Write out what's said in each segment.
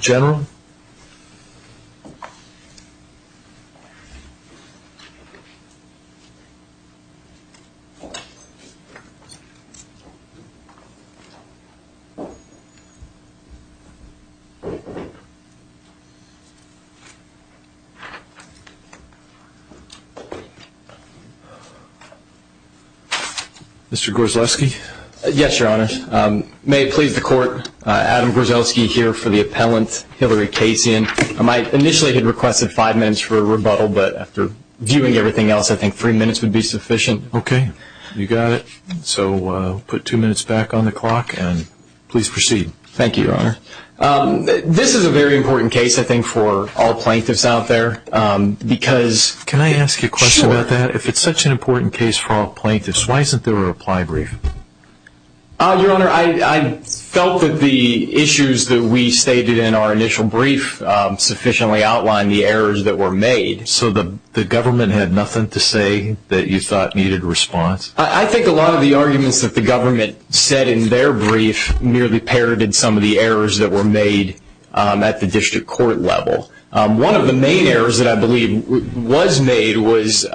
General. Mr. Gorzlewski. Mr. Gorzlewski. Yes, Your Honor. May it please the Court, Adam Gorzlewski here for the appellant, Hillary Kasian. I initially had requested five minutes for a rebuttal, but after viewing everything else, I think three minutes would be sufficient. Okay. You got it. So put two minutes back on the clock and please proceed. Thank you, Your Honor. This is a very important case. I think for all plaintiffs out there because... Can I ask you a question about that? Sure. If it's such an important case for all plaintiffs, why isn't there a reply brief? Your Honor, I felt that the issues that we stated in our initial brief sufficiently outlined the errors that were made. So the government had nothing to say that you thought needed response? I think a lot of the arguments that the government said in their brief merely parroted some of the errors that were made at the district court level. One of the main errors that I believe was made was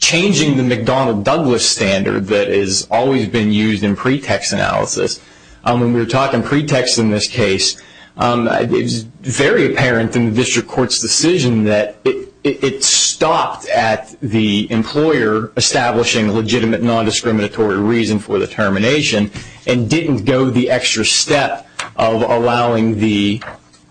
changing the McDonnell-Douglas standard that has always been used in pretext analysis. When we were talking pretext in this case, it was very apparent in the district court's decision that it stopped at the employer establishing a legitimate nondiscriminatory reason for the termination and didn't go the extra step of allowing the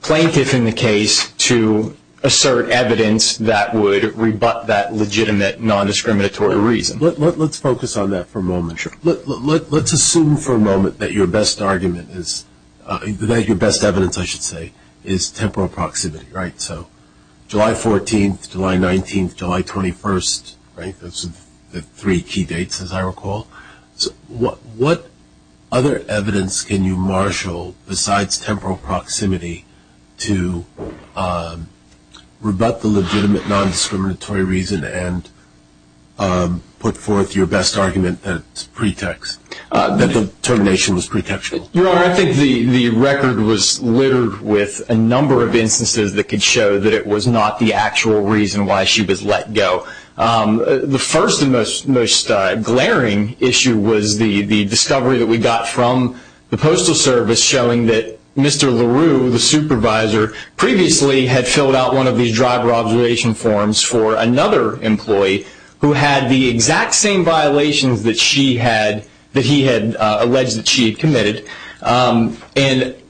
plaintiff in the case to assert evidence that would rebut that legitimate nondiscriminatory reason. Let's focus on that for a moment. Let's assume for a moment that your best argument is, that your best evidence, I should say, is temporal proximity, right? So July 14th, July 19th, July 21st, right? Those are the three key dates, as I recall. What other evidence can you marshal besides temporal proximity to rebut the legitimate nondiscriminatory reason and put forth your best argument that the termination was pretextual? Your Honor, I think the record was littered with a number of instances that could show that it was not the actual reason why she was let go. The first and most glaring issue was the discovery that we got from the Postal Service showing that Mr. LaRue, the supervisor, previously had filled out one of these driver observation forms for another employee who had the exact same violations that he had alleged that she had committed. And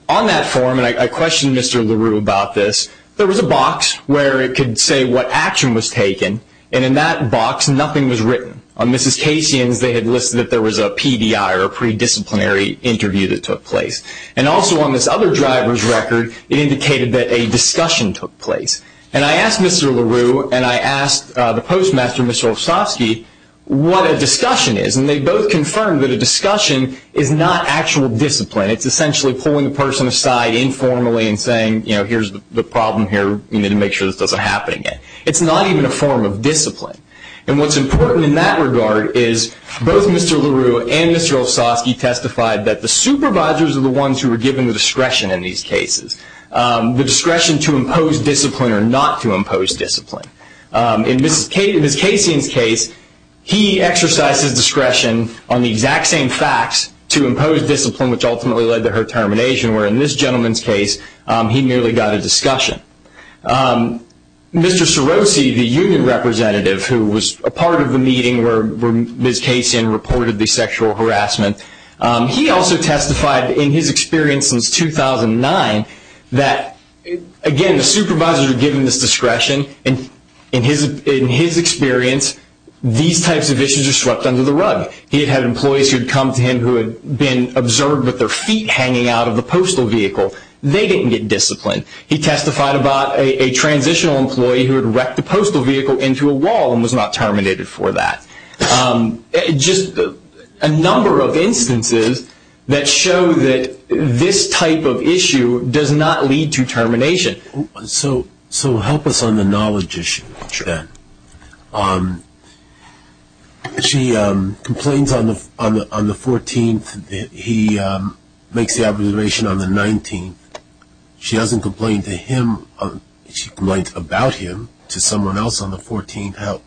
on that form, and I questioned Mr. LaRue about this, there was a box where it could say what action was taken, and in that box nothing was written. On Mrs. Casian's, they had listed that there was a PDI, or predisciplinary interview, that took place. And also on this other driver's record, it indicated that a discussion took place. And I asked Mr. LaRue, and I asked the postmaster, Mr. Olszewski, what a discussion is, and they both confirmed that a discussion is not actual discipline. It's essentially pulling the person aside informally and saying, here's the problem here, we need to make sure this doesn't happen again. It's not even a form of discipline. And what's important in that regard is both Mr. LaRue and Mr. Olszewski testified that the supervisors are the ones who are given the discretion in these cases, the discretion to impose discipline or not to impose discipline. In Mrs. Casian's case, he exercised his discretion on the exact same facts to impose discipline, which ultimately led to her termination, where in this gentleman's case he merely got a discussion. Mr. Cirosi, the union representative who was a part of the meeting where Mrs. Casian reported the sexual harassment, he also testified in his experience since 2009 that, again, the supervisors are given this discretion. In his experience, these types of issues are swept under the rug. He had had employees who had come to him who had been observed with their feet hanging out of the postal vehicle. They didn't get discipline. He testified about a transitional employee who had wrecked the postal vehicle into a wall and was not terminated for that. Just a number of instances that show that this type of issue does not lead to termination. So help us on the knowledge issue then. She complains on the 14th. He makes the observation on the 19th. She doesn't complain to him. She complains about him to someone else on the 14th.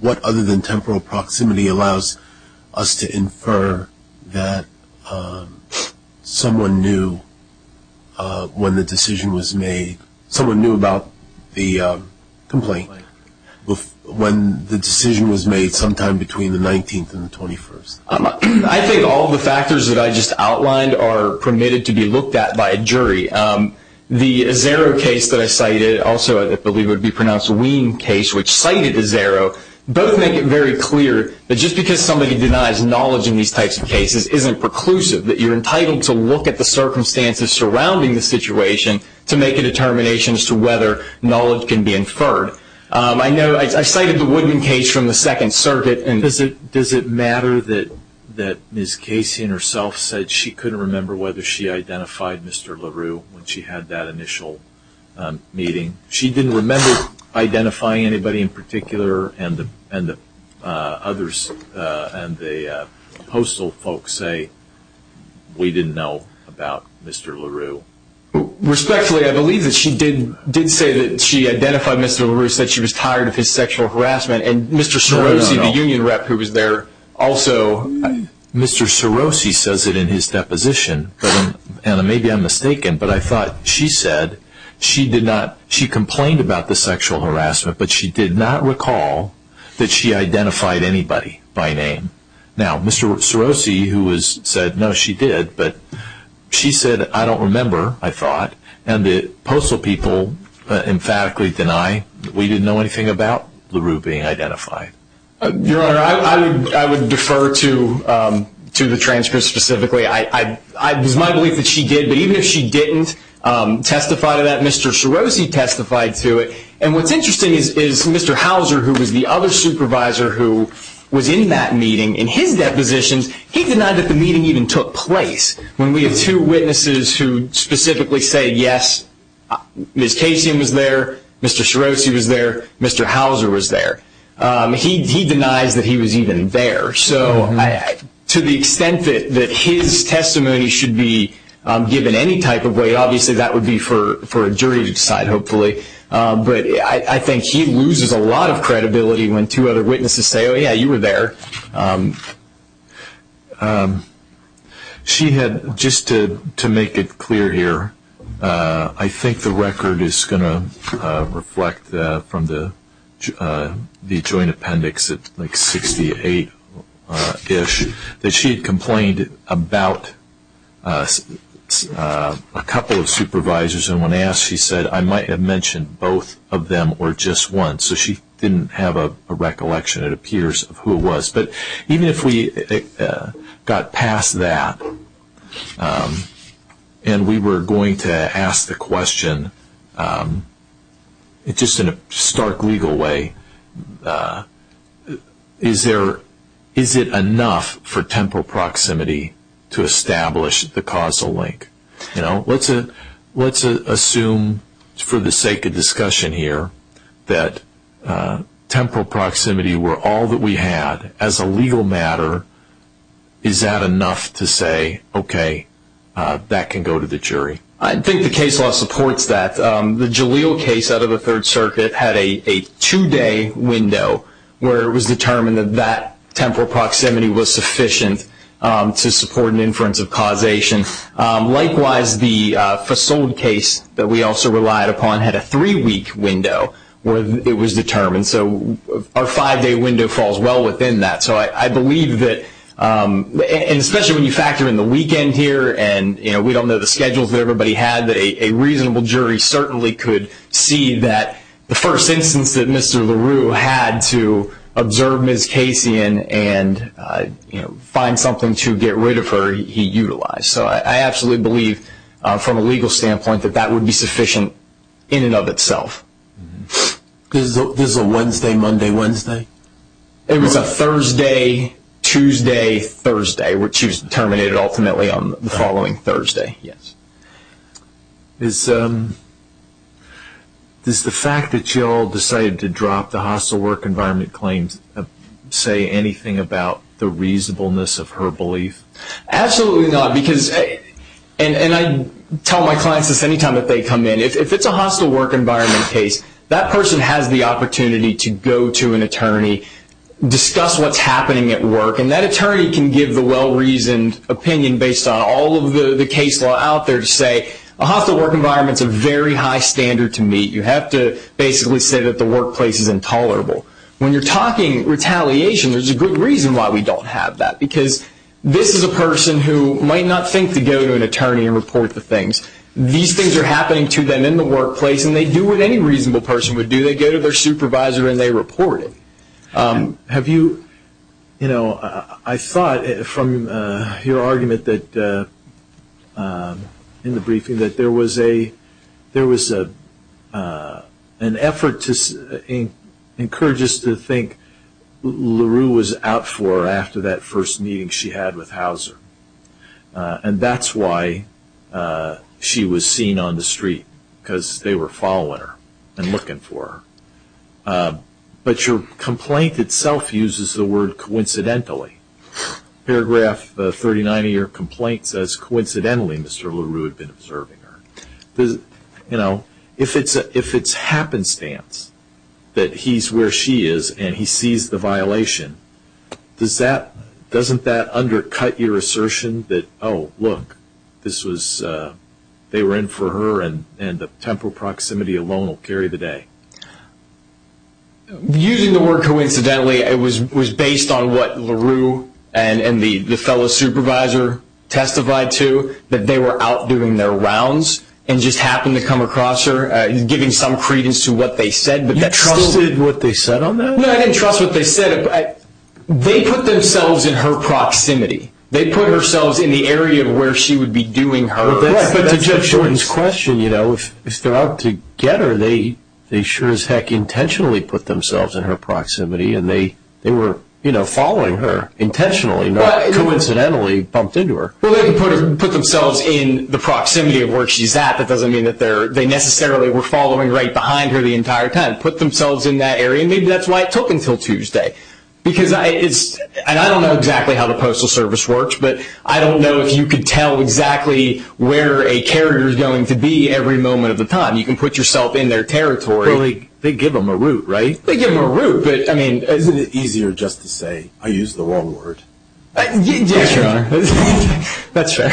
What other than temporal proximity allows us to infer that someone knew when the decision was made, someone knew about the complaint, when the decision was made sometime between the 19th and the 21st? I think all the factors that I just outlined are permitted to be looked at by a jury. The Azzaro case that I cited, also I believe it would be pronounced Wien case, which cited Azzaro, both make it very clear that just because somebody denies knowledge in these types of cases isn't preclusive, that you're entitled to look at the circumstances surrounding the situation to make a determination as to whether knowledge can be inferred. I cited the Woodman case from the Second Circuit. Does it matter that Ms. Casey herself said she couldn't remember whether she identified Mr. LaRue when she had that initial meeting? She didn't remember identifying anybody in particular, and the postal folks say we didn't know about Mr. LaRue. Respectfully, I believe that she did say that she identified Mr. LaRue, said she was tired of his sexual harassment, and Mr. Sorosi, the union rep who was there also. Mr. Sorosi says it in his deposition, and maybe I'm mistaken, but I thought she said she complained about the sexual harassment, but she did not recall that she identified anybody by name. Now, Mr. Sorosi, who said, no, she did, but she said, I don't remember, I thought, and the postal people emphatically deny that we didn't know anything about LaRue being identified. Your Honor, I would defer to the transcript specifically. It is my belief that she did, but even if she didn't testify to that, Mr. Sorosi testified to it, and what's interesting is Mr. Hauser, who was the other supervisor who was in that meeting, in his depositions, he denied that the meeting even took place when we have two witnesses who specifically say, yes, Ms. Casey was there, Mr. Sorosi was there, Mr. Hauser was there. He denies that he was even there. So to the extent that his testimony should be given any type of way, obviously that would be for a jury to decide, hopefully, but I think he loses a lot of credibility when two other witnesses say, oh, yeah, you were there. She had, just to make it clear here, I think the record is going to reflect from the joint appendix at like 68-ish, that she had complained about a couple of supervisors, and when asked she said, I might have mentioned both of them or just one. So she didn't have a recollection, it appears, of who it was. But even if we got past that and we were going to ask the question, just in a stark legal way, is it enough for temporal proximity to establish the causal link? Let's assume, for the sake of discussion here, that temporal proximity were all that we had as a legal matter, is that enough to say, okay, that can go to the jury? I think the case law supports that. The Jaleel case out of the Third Circuit had a two-day window where it was determined that that temporal proximity was sufficient to support an inference of causation. Likewise, the Fasold case that we also relied upon had a three-week window where it was determined. So our five-day window falls well within that. So I believe that, and especially when you factor in the weekend here, and we don't know the schedules that everybody had, a reasonable jury certainly could see that the first instance that Mr. LaRue had to observe Ms. Casey and find something to get rid of her, he utilized. So I absolutely believe, from a legal standpoint, that that would be sufficient in and of itself. Was it a Wednesday, Monday, Wednesday? It was a Thursday, Tuesday, Thursday, which was terminated ultimately on the following Thursday. Does the fact that Jaleel decided to drop the hostile work environment claims say anything about the reasonableness of her belief? Absolutely not, and I tell my clients this any time that they come in. If it's a hostile work environment case, that person has the opportunity to go to an attorney, discuss what's happening at work, and that attorney can give the well-reasoned opinion based on all of the case law out there to say a hostile work environment is a very high standard to meet. You have to basically say that the workplace is intolerable. When you're talking retaliation, there's a good reason why we don't have that because this is a person who might not think to go to an attorney and report the things. These things are happening to them in the workplace, and they do what any reasonable person would do. They go to their supervisor and they report it. I thought from your argument in the briefing that there was an effort to encourage us to think LaRue was out for her after that first meeting she had with Hauser, and that's why she was seen on the street because they were following her and looking for her. But your complaint itself uses the word coincidentally. Paragraph 39 of your complaint says, coincidentally, Mr. LaRue had been observing her. If it's happenstance that he's where she is and he sees the violation, doesn't that undercut your assertion that, oh, look, they were in for her and the temporal proximity alone will carry the day? Using the word coincidentally, it was based on what LaRue and the fellow supervisor testified to, that they were out doing their rounds and just happened to come across her, giving some credence to what they said. You trusted what they said on that? No, I didn't trust what they said. They put themselves in her proximity. They put themselves in the area where she would be doing her. But to Judge Jordan's question, if they're out to get her, they sure as heck intentionally put themselves in her proximity and they were following her intentionally, not coincidentally bumped into her. Well, they didn't put themselves in the proximity of where she's at. That doesn't mean that they necessarily were following right behind her the entire time. They put themselves in that area, and maybe that's why it took until Tuesday. And I don't know exactly how the Postal Service works, but I don't know if you could tell exactly where a character is going to be every moment of the time. You can put yourself in their territory. Well, they give them a route, right? They give them a route. But, I mean, isn't it easier just to say, I used the wrong word? Yes, Your Honor. That's fair.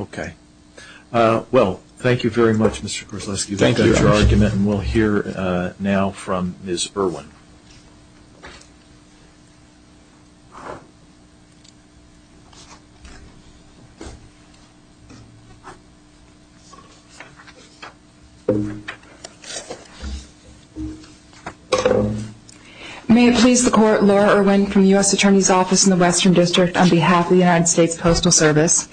Okay. Thank you, Judge. Thank you for your argument, and we'll hear now from Ms. Irwin. May it please the Court, Laura Irwin from the U.S. Attorney's Office in the Western District on behalf of the United States Postal Service.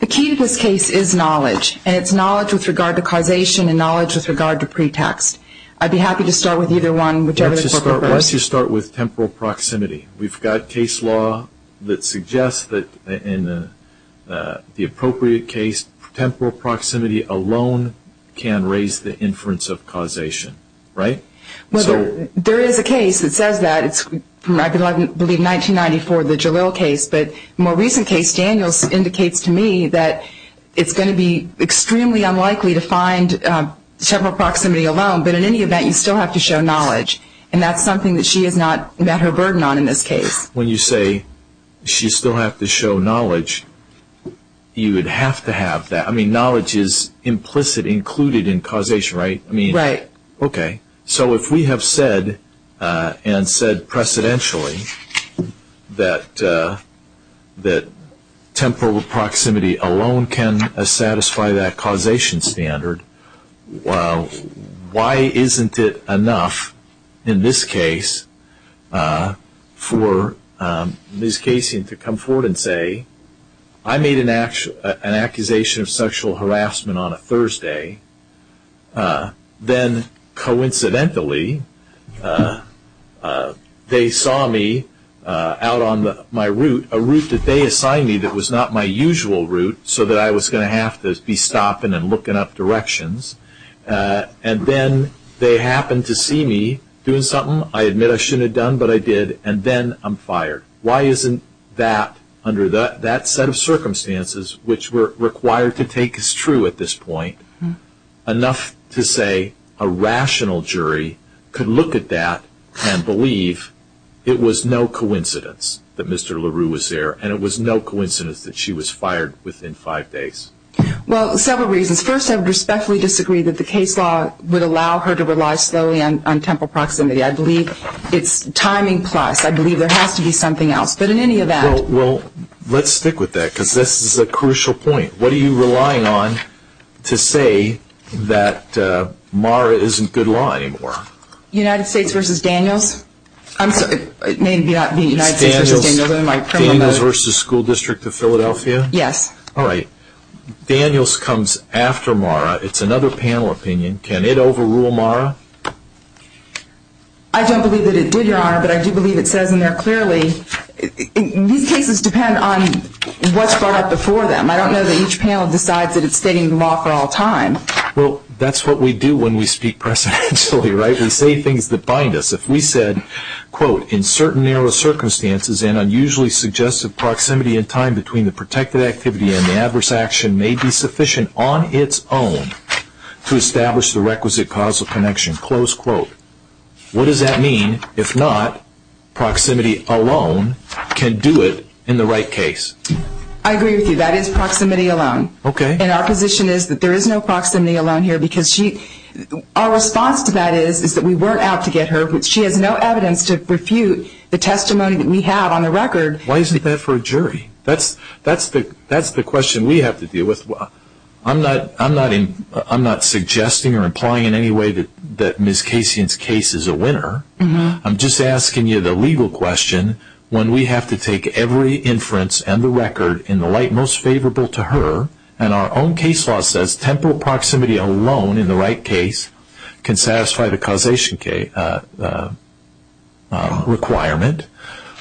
The key to this case is knowledge, and it's knowledge with regard to causation and knowledge with regard to pretext. I'd be happy to start with either one, whichever is appropriate. Let's just start with temporal proximity. We've got case law that suggests that in the appropriate case, temporal proximity alone can raise the inference of causation, right? Well, there is a case that says that. It's from, I believe, 1994, the Jalil case. But the more recent case, Daniels, indicates to me that it's going to be extremely unlikely to find temporal proximity alone. But in any event, you still have to show knowledge, and that's something that she has not met her burden on in this case. When you say she still has to show knowledge, you would have to have that. I mean, knowledge is implicit, included in causation, right? Right. Okay. So if we have said and said precedentially that temporal proximity alone can satisfy that causation standard, why isn't it enough in this case for Ms. Casey to come forward and say, I made an accusation of sexual harassment on a Thursday. Then coincidentally, they saw me out on my route, a route that they assigned me that was not my usual route, so that I was going to have to be stopping and looking up directions. And then they happened to see me doing something I admit I shouldn't have done, but I did. And then I'm fired. Why isn't that, under that set of circumstances, which were required to take as true at this point, enough to say a rational jury could look at that and believe it was no coincidence that Mr. LaRue was there and it was no coincidence that she was fired within five days? Well, several reasons. First, I would respectfully disagree that the case law would allow her to rely slowly on temporal proximity. I believe it's timing plus. I believe there has to be something else. But in any event. Well, let's stick with that, because this is a crucial point. What are you relying on to say that MARA isn't good law anymore? United States versus Daniels? I'm sorry, it may not be United States versus Daniels. Is Daniels versus School District of Philadelphia? Yes. All right. Daniels comes after MARA. It's another panel opinion. Can it overrule MARA? I don't believe that it did, Your Honor. But I do believe it says in there clearly. These cases depend on what's brought up before them. I don't know that each panel decides that it's stating the law for all time. Well, that's what we do when we speak presidentially, right? We say things that bind us. If we said, quote, in certain narrow circumstances and unusually suggestive proximity and time between the protected activity and the adverse action may be sufficient on its own to establish the requisite causal connection. Close quote. What does that mean if not proximity alone can do it in the right case? I agree with you. That is proximity alone. Okay. And our position is that there is no proximity alone here, because our response to that is that we weren't out to get her. She has no evidence to refute the testimony that we have on the record. Why isn't that for a jury? That's the question we have to deal with. I'm not suggesting or implying in any way that Ms. Casian's case is a winner. I'm just asking you the legal question when we have to take every inference and the record in the light most favorable to her, and our own case law says temporal proximity alone in the right case can satisfy the causation requirement.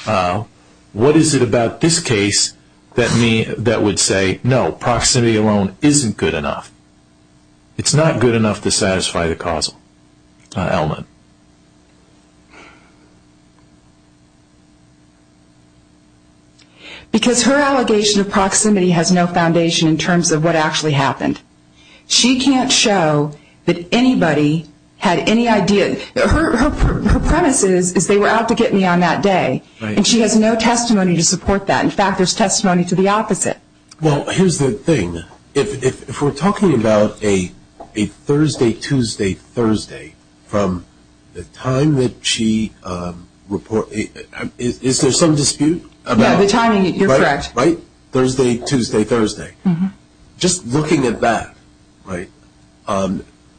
What is it about this case that would say no, proximity alone isn't good enough? It's not good enough to satisfy the causal element. Because her allegation of proximity has no foundation in terms of what actually happened. She can't show that anybody had any idea. Her premise is they were out to get me on that day, and she has no testimony to support that. In fact, there's testimony to the opposite. Well, here's the thing. If we're talking about a Thursday, Tuesday, Thursday from the time that she reported, is there some dispute? Yeah, the timing, you're correct. Right? Thursday, Tuesday, Thursday. Just looking at that, right,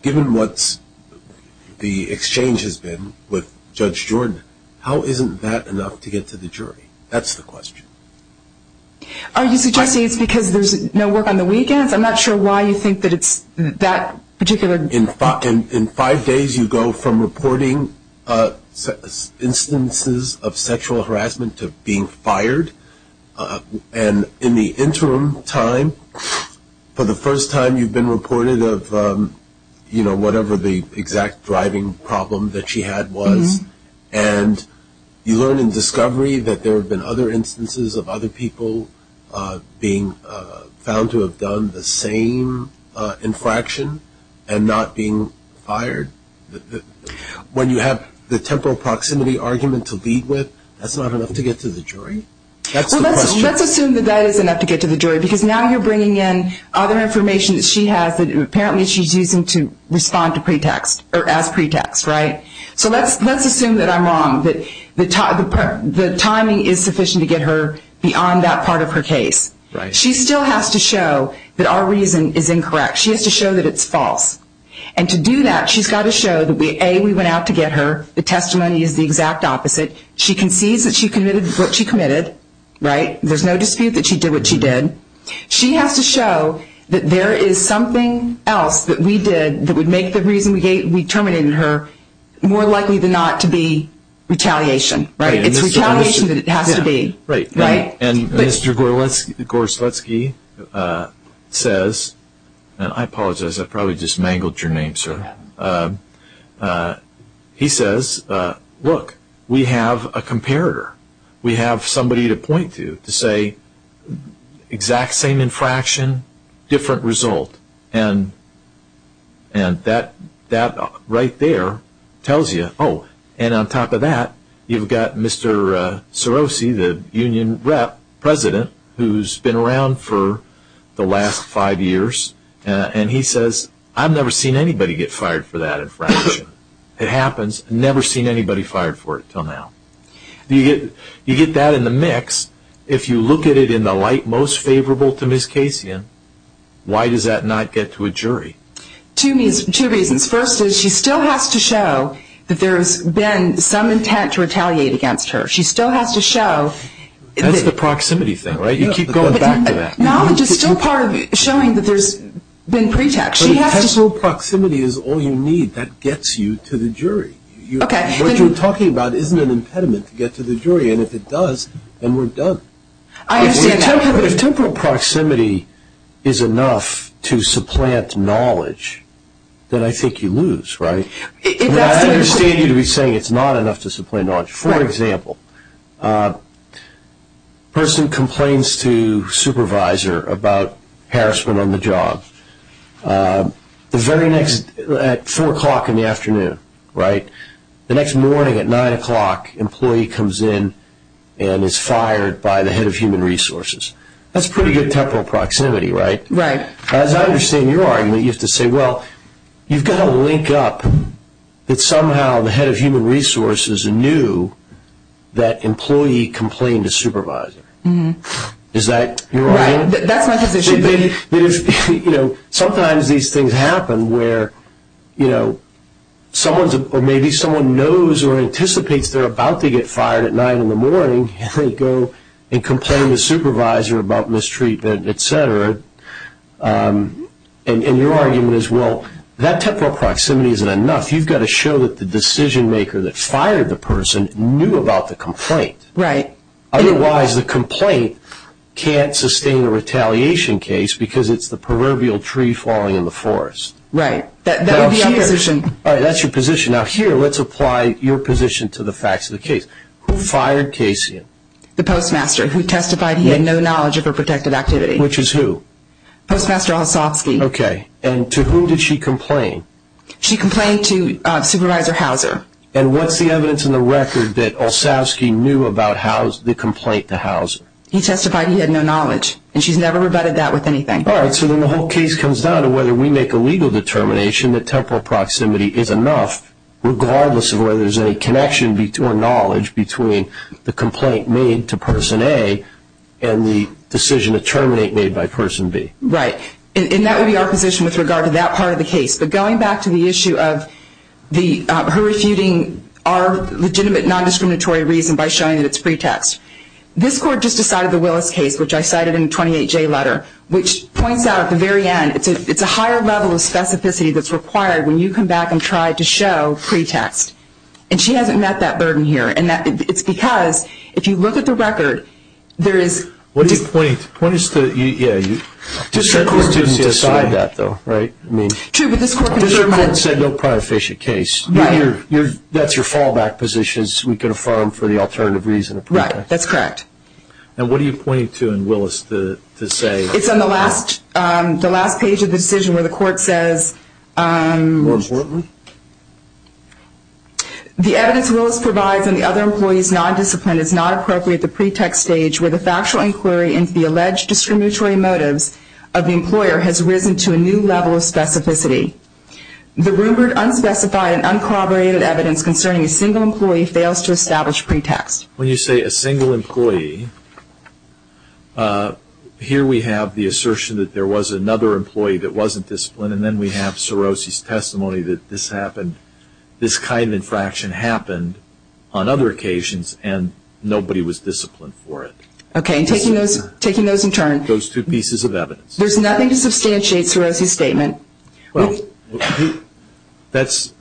given what the exchange has been with Judge Jordan, how isn't that enough to get to the jury? That's the question. Are you suggesting it's because there's no work on the weekends? I'm not sure why you think that it's that particular. In five days you go from reporting instances of sexual harassment to being fired, and in the interim time for the first time you've been reported of, you know, whatever the exact driving problem that she had was, and you learn in discovery that there have been other instances of other people being found to have done the same infraction and not being fired. When you have the temporal proximity argument to lead with, that's not enough to get to the jury? That's the question. Well, let's assume that that is enough to get to the jury, because now you're bringing in other information that she has that apparently she's using to respond to pretext, or as pretext, right? So let's assume that I'm wrong, that the timing is sufficient to get her beyond that part of her case. Right. She still has to show that our reason is incorrect. She has to show that it's false. And to do that, she's got to show that, A, we went out to get her. The testimony is the exact opposite. She concedes that she committed what she committed, right? There's no dispute that she did what she did. She has to show that there is something else that we did that would make the reason we terminated her more likely than not to be retaliation, right? It's retaliation that it has to be, right? And Mr. Gorslutsky says, and I apologize, I probably just mangled your name, sir. He says, look, we have a comparator. We have somebody to point to, to say exact same infraction, different result. And that right there tells you, oh, and on top of that, you've got Mr. Sorosi, the union rep, president, who's been around for the last five years, and he says, I've never seen anybody get fired for that infraction. It happens. Never seen anybody fired for it until now. You get that in the mix. If you look at it in the light most favorable to Ms. Kasian, why does that not get to a jury? Two reasons. First is she still has to show that there's been some intent to retaliate against her. She still has to show that the – That's the proximity thing, right? You keep going back to that. Knowledge is still part of showing that there's been pretext. Personal proximity is all you need. That gets you to the jury. What you're talking about isn't an impediment to get to the jury, and if it does, then we're done. If temporal proximity is enough to supplant knowledge, then I think you lose, right? I understand you to be saying it's not enough to supplant knowledge. For example, person complains to supervisor about harassment on the job. The very next – at 4 o'clock in the afternoon, right, the next morning at 9 o'clock, employee comes in and is fired by the head of human resources. That's pretty good temporal proximity, right? Right. As I understand your argument, you have to say, well, you've got to link up that somehow the head of human resources knew that employee complained to supervisor. Is that your argument? Right. That's my position. Sometimes these things happen where maybe someone knows or anticipates they're about to get fired at 9 in the morning, and they go and complain to supervisor about mistreatment, et cetera. Your argument is, well, that temporal proximity isn't enough. You've got to show that the decision maker that fired the person knew about the complaint. Right. Otherwise, the complaint can't sustain a retaliation case because it's the proverbial tree falling in the forest. Right. That would be our position. All right. That's your position. Now, here, let's apply your position to the facts of the case. Who fired Casey? The postmaster who testified he had no knowledge of her protective activity. Which is who? Postmaster Olsavsky. Okay. And to whom did she complain? She complained to Supervisor Hauser. And what's the evidence in the record that Olsavsky knew about the complaint to Hauser? He testified he had no knowledge, and she's never rebutted that with anything. All right. So then the whole case comes down to whether we make a legal determination that temporal proximity is enough regardless of whether there's any connection or knowledge between the complaint made to Person A and the decision to terminate made by Person B. Right. And that would be our position with regard to that part of the case. But going back to the issue of her refuting our legitimate non-discriminatory reason by showing that it's pretext, this Court just decided the Willis case, which I cited in the 28J letter, which points out at the very end, it's a higher level of specificity that's required when you come back and try to show pretext. And she hasn't met that burden here. And it's because if you look at the record, there is – What is the – yeah. District Court didn't decide that, though, right? True, but this Court confirmed that. District Court said no prior fish at case. Right. That's your fallback position is we can affirm for the alternative reason of pretext. Right. That's correct. And what are you pointing to in Willis to say? It's on the last page of the decision where the Court says – More importantly? The evidence Willis provides on the other employee's non-discipline is not appropriate at the pretext stage where the factual inquiry into the alleged discriminatory motives of the employer has risen to a new level of specificity. The rumored unspecified and uncorroborated evidence concerning a single employee fails to establish pretext. When you say a single employee, here we have the assertion that there was another employee that wasn't disciplined, and then we have Cirosi's testimony that this happened – this kind of infraction happened on other occasions and nobody was disciplined for it. Okay. Taking those in turn – Those two pieces of evidence. There's nothing to substantiate Cirosi's statement. Well, that's –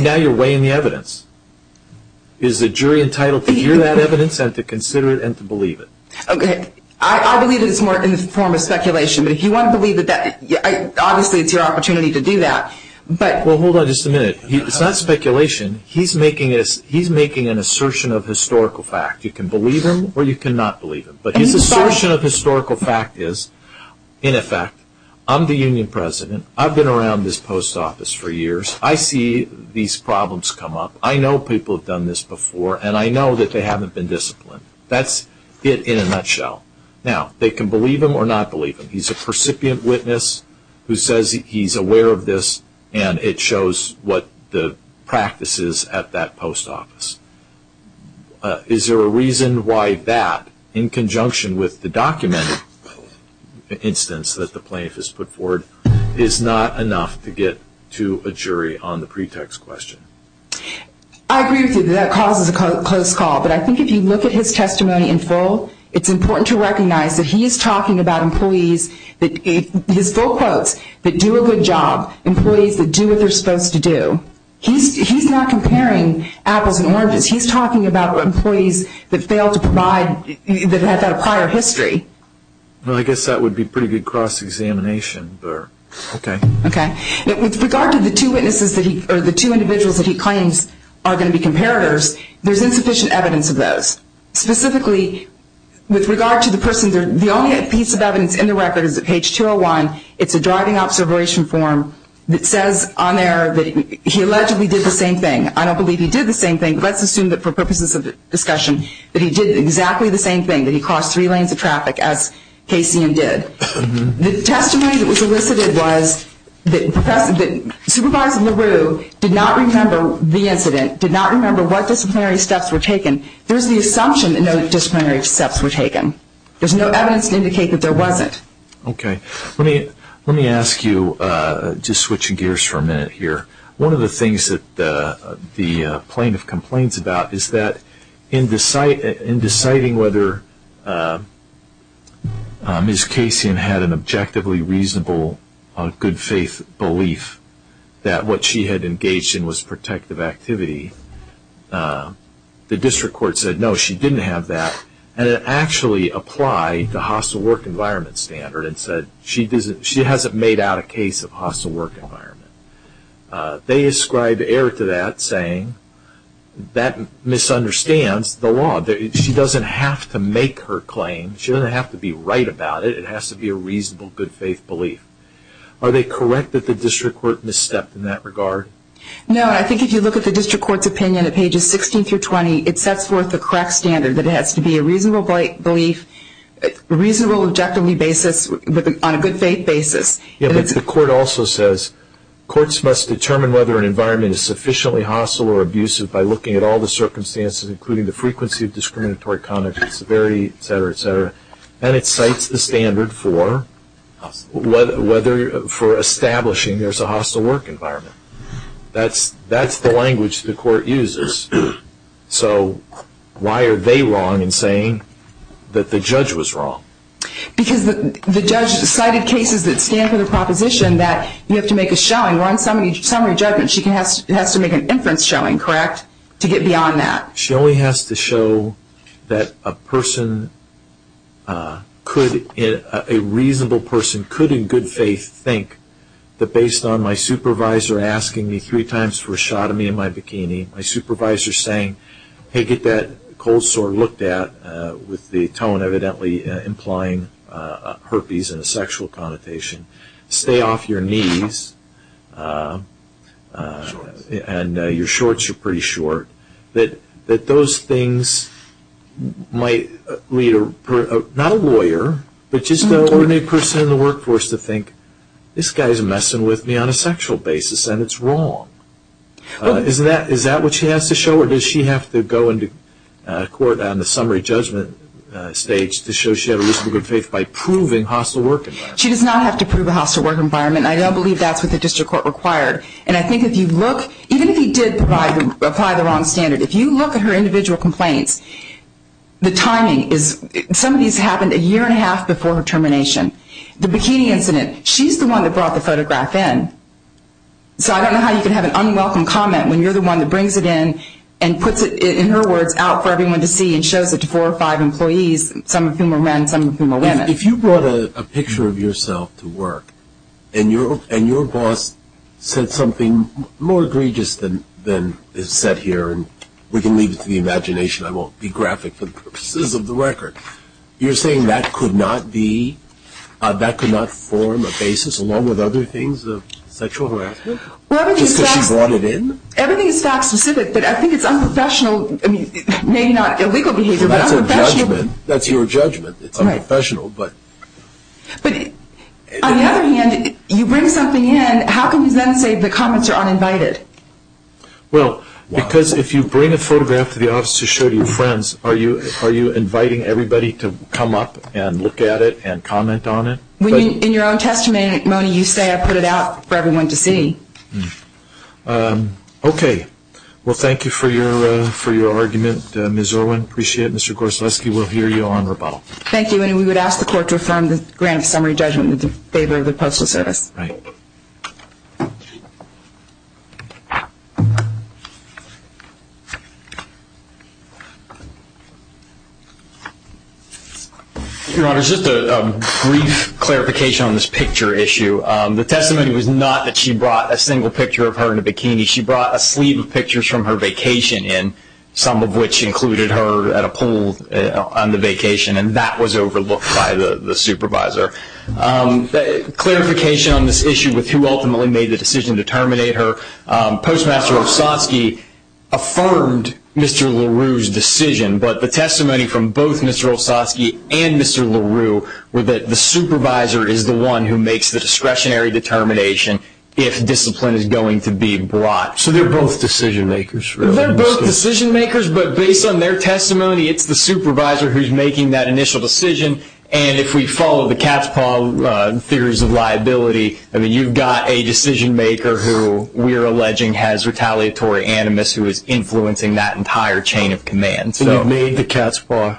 now you're weighing the evidence. Is the jury entitled to hear that evidence and to consider it and to believe it? Okay. I believe it's more in the form of speculation, but if you want to believe it, obviously it's your opportunity to do that. Well, hold on just a minute. It's not speculation. He's making an assertion of historical fact. You can believe him or you cannot believe him. But his assertion of historical fact is, in effect, I'm the union president. I've been around this post office for years. I see these problems come up. I know people have done this before, and I know that they haven't been disciplined. That's it in a nutshell. Now, they can believe him or not believe him. He's a percipient witness who says he's aware of this, and it shows what the practice is at that post office. Is there a reason why that, in conjunction with the documented instance that the plaintiff has put forward, is not enough to get to a jury on the pretext question? I agree with you. That causes a close call. But I think if you look at his testimony in full, it's important to recognize that he is talking about employees that – his full quotes – that do a good job, employees that do what they're supposed to do. He's not comparing apples and oranges. He's talking about employees that fail to provide – that have had a prior history. Well, I guess that would be pretty good cross-examination. Okay. Okay. With regard to the two witnesses that he – or the two individuals that he claims are going to be comparators, there's insufficient evidence of those. Specifically, with regard to the person – the only piece of evidence in the record is at page 201. It's a driving observation form that says on there that he allegedly did the same thing. I don't believe he did the same thing, but let's assume that for purposes of discussion, that he did exactly the same thing, that he crossed three lanes of traffic as Casey and did. The testimony that was elicited was that Supervisor LaRue did not remember the incident, did not remember what disciplinary steps were taken. There's the assumption that no disciplinary steps were taken. There's no evidence to indicate that there wasn't. Okay. Let me ask you – just switching gears for a minute here. One of the things that the plaintiff complains about is that in deciding whether Ms. Casey had an objectively reasonable, good-faith belief that what she had engaged in was protective activity, the district court said, no, she didn't have that. And it actually applied the hostile work environment standard and said she hasn't made out a case of hostile work environment. They ascribe error to that, saying that misunderstands the law. She doesn't have to make her claim. She doesn't have to be right about it. It has to be a reasonable, good-faith belief. Are they correct that the district court misstepped in that regard? No. I think if you look at the district court's opinion at pages 16 through 20, it sets forth the correct standard that it has to be a reasonable belief on a good-faith basis. The court also says courts must determine whether an environment is sufficiently hostile or abusive by looking at all the circumstances, including the frequency of discriminatory conduct, severity, et cetera, et cetera. And it cites the standard for establishing there's a hostile work environment. That's the language the court uses. So why are they wrong in saying that the judge was wrong? Because the judge cited cases that stand for the proposition that you have to make a showing. We're on summary judgment. She has to make an inference showing, correct, to get beyond that. She only has to show that a reasonable person could, in good faith, think that based on my supervisor asking me three times for a shot of me in my bikini, my supervisor saying, hey, get that cold sore looked at with the tone evidently implying herpes and a sexual connotation, stay off your knees, and your shorts are pretty short, that those things might lead not a lawyer but just an ordinary person in the workforce to think, this guy's messing with me on a sexual basis and it's wrong. Is that what she has to show or does she have to go into court on the summary judgment stage to show she had a reasonable good faith by proving hostile work environment? She does not have to prove a hostile work environment. I don't believe that's what the district court required. And I think if you look, even if he did apply the wrong standard, if you look at her individual complaints, the timing is, some of these happened a year and a half before her termination. The bikini incident, she's the one that brought the photograph in. So I don't know how you can have an unwelcome comment when you're the one that brings it in and puts it, in her words, out for everyone to see and shows it to four or five employees, some of whom are men, some of whom are women. If you brought a picture of yourself to work and your boss said something more egregious than is said here, and we can leave it to the imagination, I won't be graphic for the purposes of the record, you're saying that could not be, that could not form a basis, along with other things of sexual harassment, just because she brought it in? Everything is fact specific, but I think it's unprofessional, I mean, maybe not illegal behavior, but unprofessional. That's a judgment. That's your judgment. It's unprofessional. But on the other hand, you bring something in, how can you then say the comments are uninvited? Well, because if you bring a photograph to the office to show to your friends, are you inviting everybody to come up and look at it and comment on it? In your own testimony, you say, I put it out for everyone to see. Okay. Well, thank you for your argument, Ms. Irwin. I appreciate it. Mr. Gorsalski, we'll hear you on rebuttal. Thank you, and we would ask the court to affirm the grant of summary judgment in favor of the Postal Service. Right. Your Honor, just a brief clarification on this picture issue. The testimony was not that she brought a single picture of her in a bikini. She brought a sleeve of pictures from her vacation in, some of which included her at a pool on the vacation, and that was overlooked by the supervisor. Clarification on this issue with who ultimately made the decision to terminate her. Postmaster Olsoski affirmed Mr. LaRue's decision, but the testimony from both Mr. Olsoski and Mr. LaRue were that the supervisor is the one who makes the discretionary determination if discipline is going to be brought. So they're both decision makers? They're both decision makers, but based on their testimony, it's the supervisor who's making that initial decision. And if we follow the Catspaw theories of liability, you've got a decision maker who we're alleging has retaliatory animus, who is influencing that entire chain of command. So you've made the Catspaw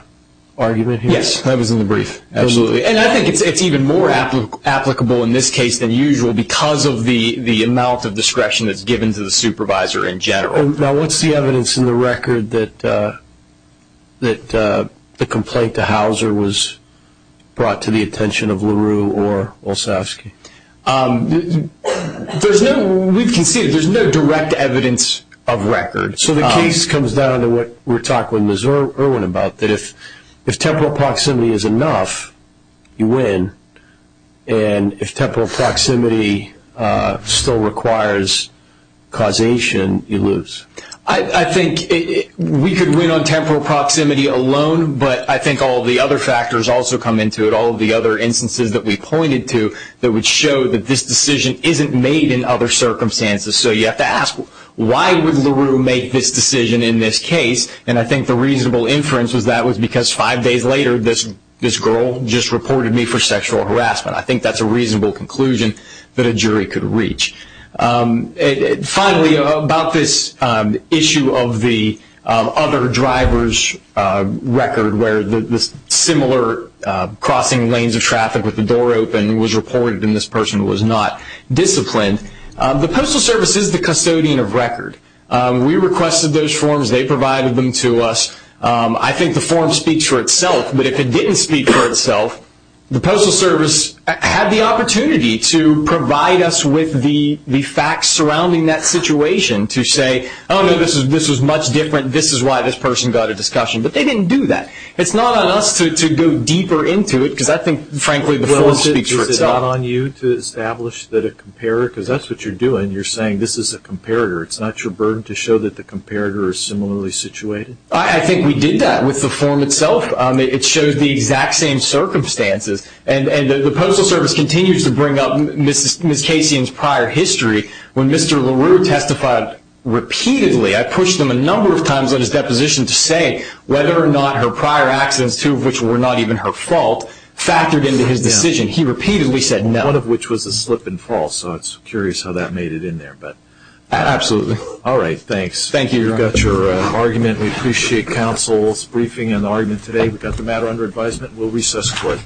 argument here? Yes. That was in the brief. Absolutely, and I think it's even more applicable in this case than usual because of the amount of discretion that's given to the supervisor in general. Now, what's the evidence in the record that the complaint to Hauser was brought to the attention of LaRue or Olsoski? There's no direct evidence of record. So the case comes down to what we were talking with Ms. Irwin about, that if temporal proximity is enough, you win, and if temporal proximity still requires causation, you lose. I think we could win on temporal proximity alone, but I think all the other factors also come into it, all of the other instances that we pointed to that would show that this decision isn't made in other circumstances. So you have to ask, why would LaRue make this decision in this case? And I think the reasonable inference is that was because five days later, this girl just reported me for sexual harassment. I think that's a reasonable conclusion that a jury could reach. Finally, about this issue of the other driver's record, where the similar crossing lanes of traffic with the door open was reported and this person was not disciplined, the Postal Service is the custodian of record. We requested those forms. They provided them to us. I think the form speaks for itself, but if it didn't speak for itself, the Postal Service had the opportunity to provide us with the facts surrounding that situation to say, oh, no, this was much different, this is why this person got a discussion, but they didn't do that. It's not on us to go deeper into it, because I think, frankly, the form speaks for itself. Well, is it not on you to establish that a comparator, because that's what you're doing, you're saying this is a comparator. It's not your burden to show that the comparator is similarly situated? I think we did that with the form itself. It shows the exact same circumstances, and the Postal Service continues to bring up Ms. Casian's prior history. When Mr. LaRue testified repeatedly, I pushed him a number of times on his deposition to say whether or not her prior accidents, two of which were not even her fault, factored into his decision. He repeatedly said no. One of which was a slip and fall, so I'm curious how that made it in there. Absolutely. All right, thanks. Thank you. You've got your argument. We appreciate counsel's briefing and argument today. We've got the matter under advisement. We'll recess for it.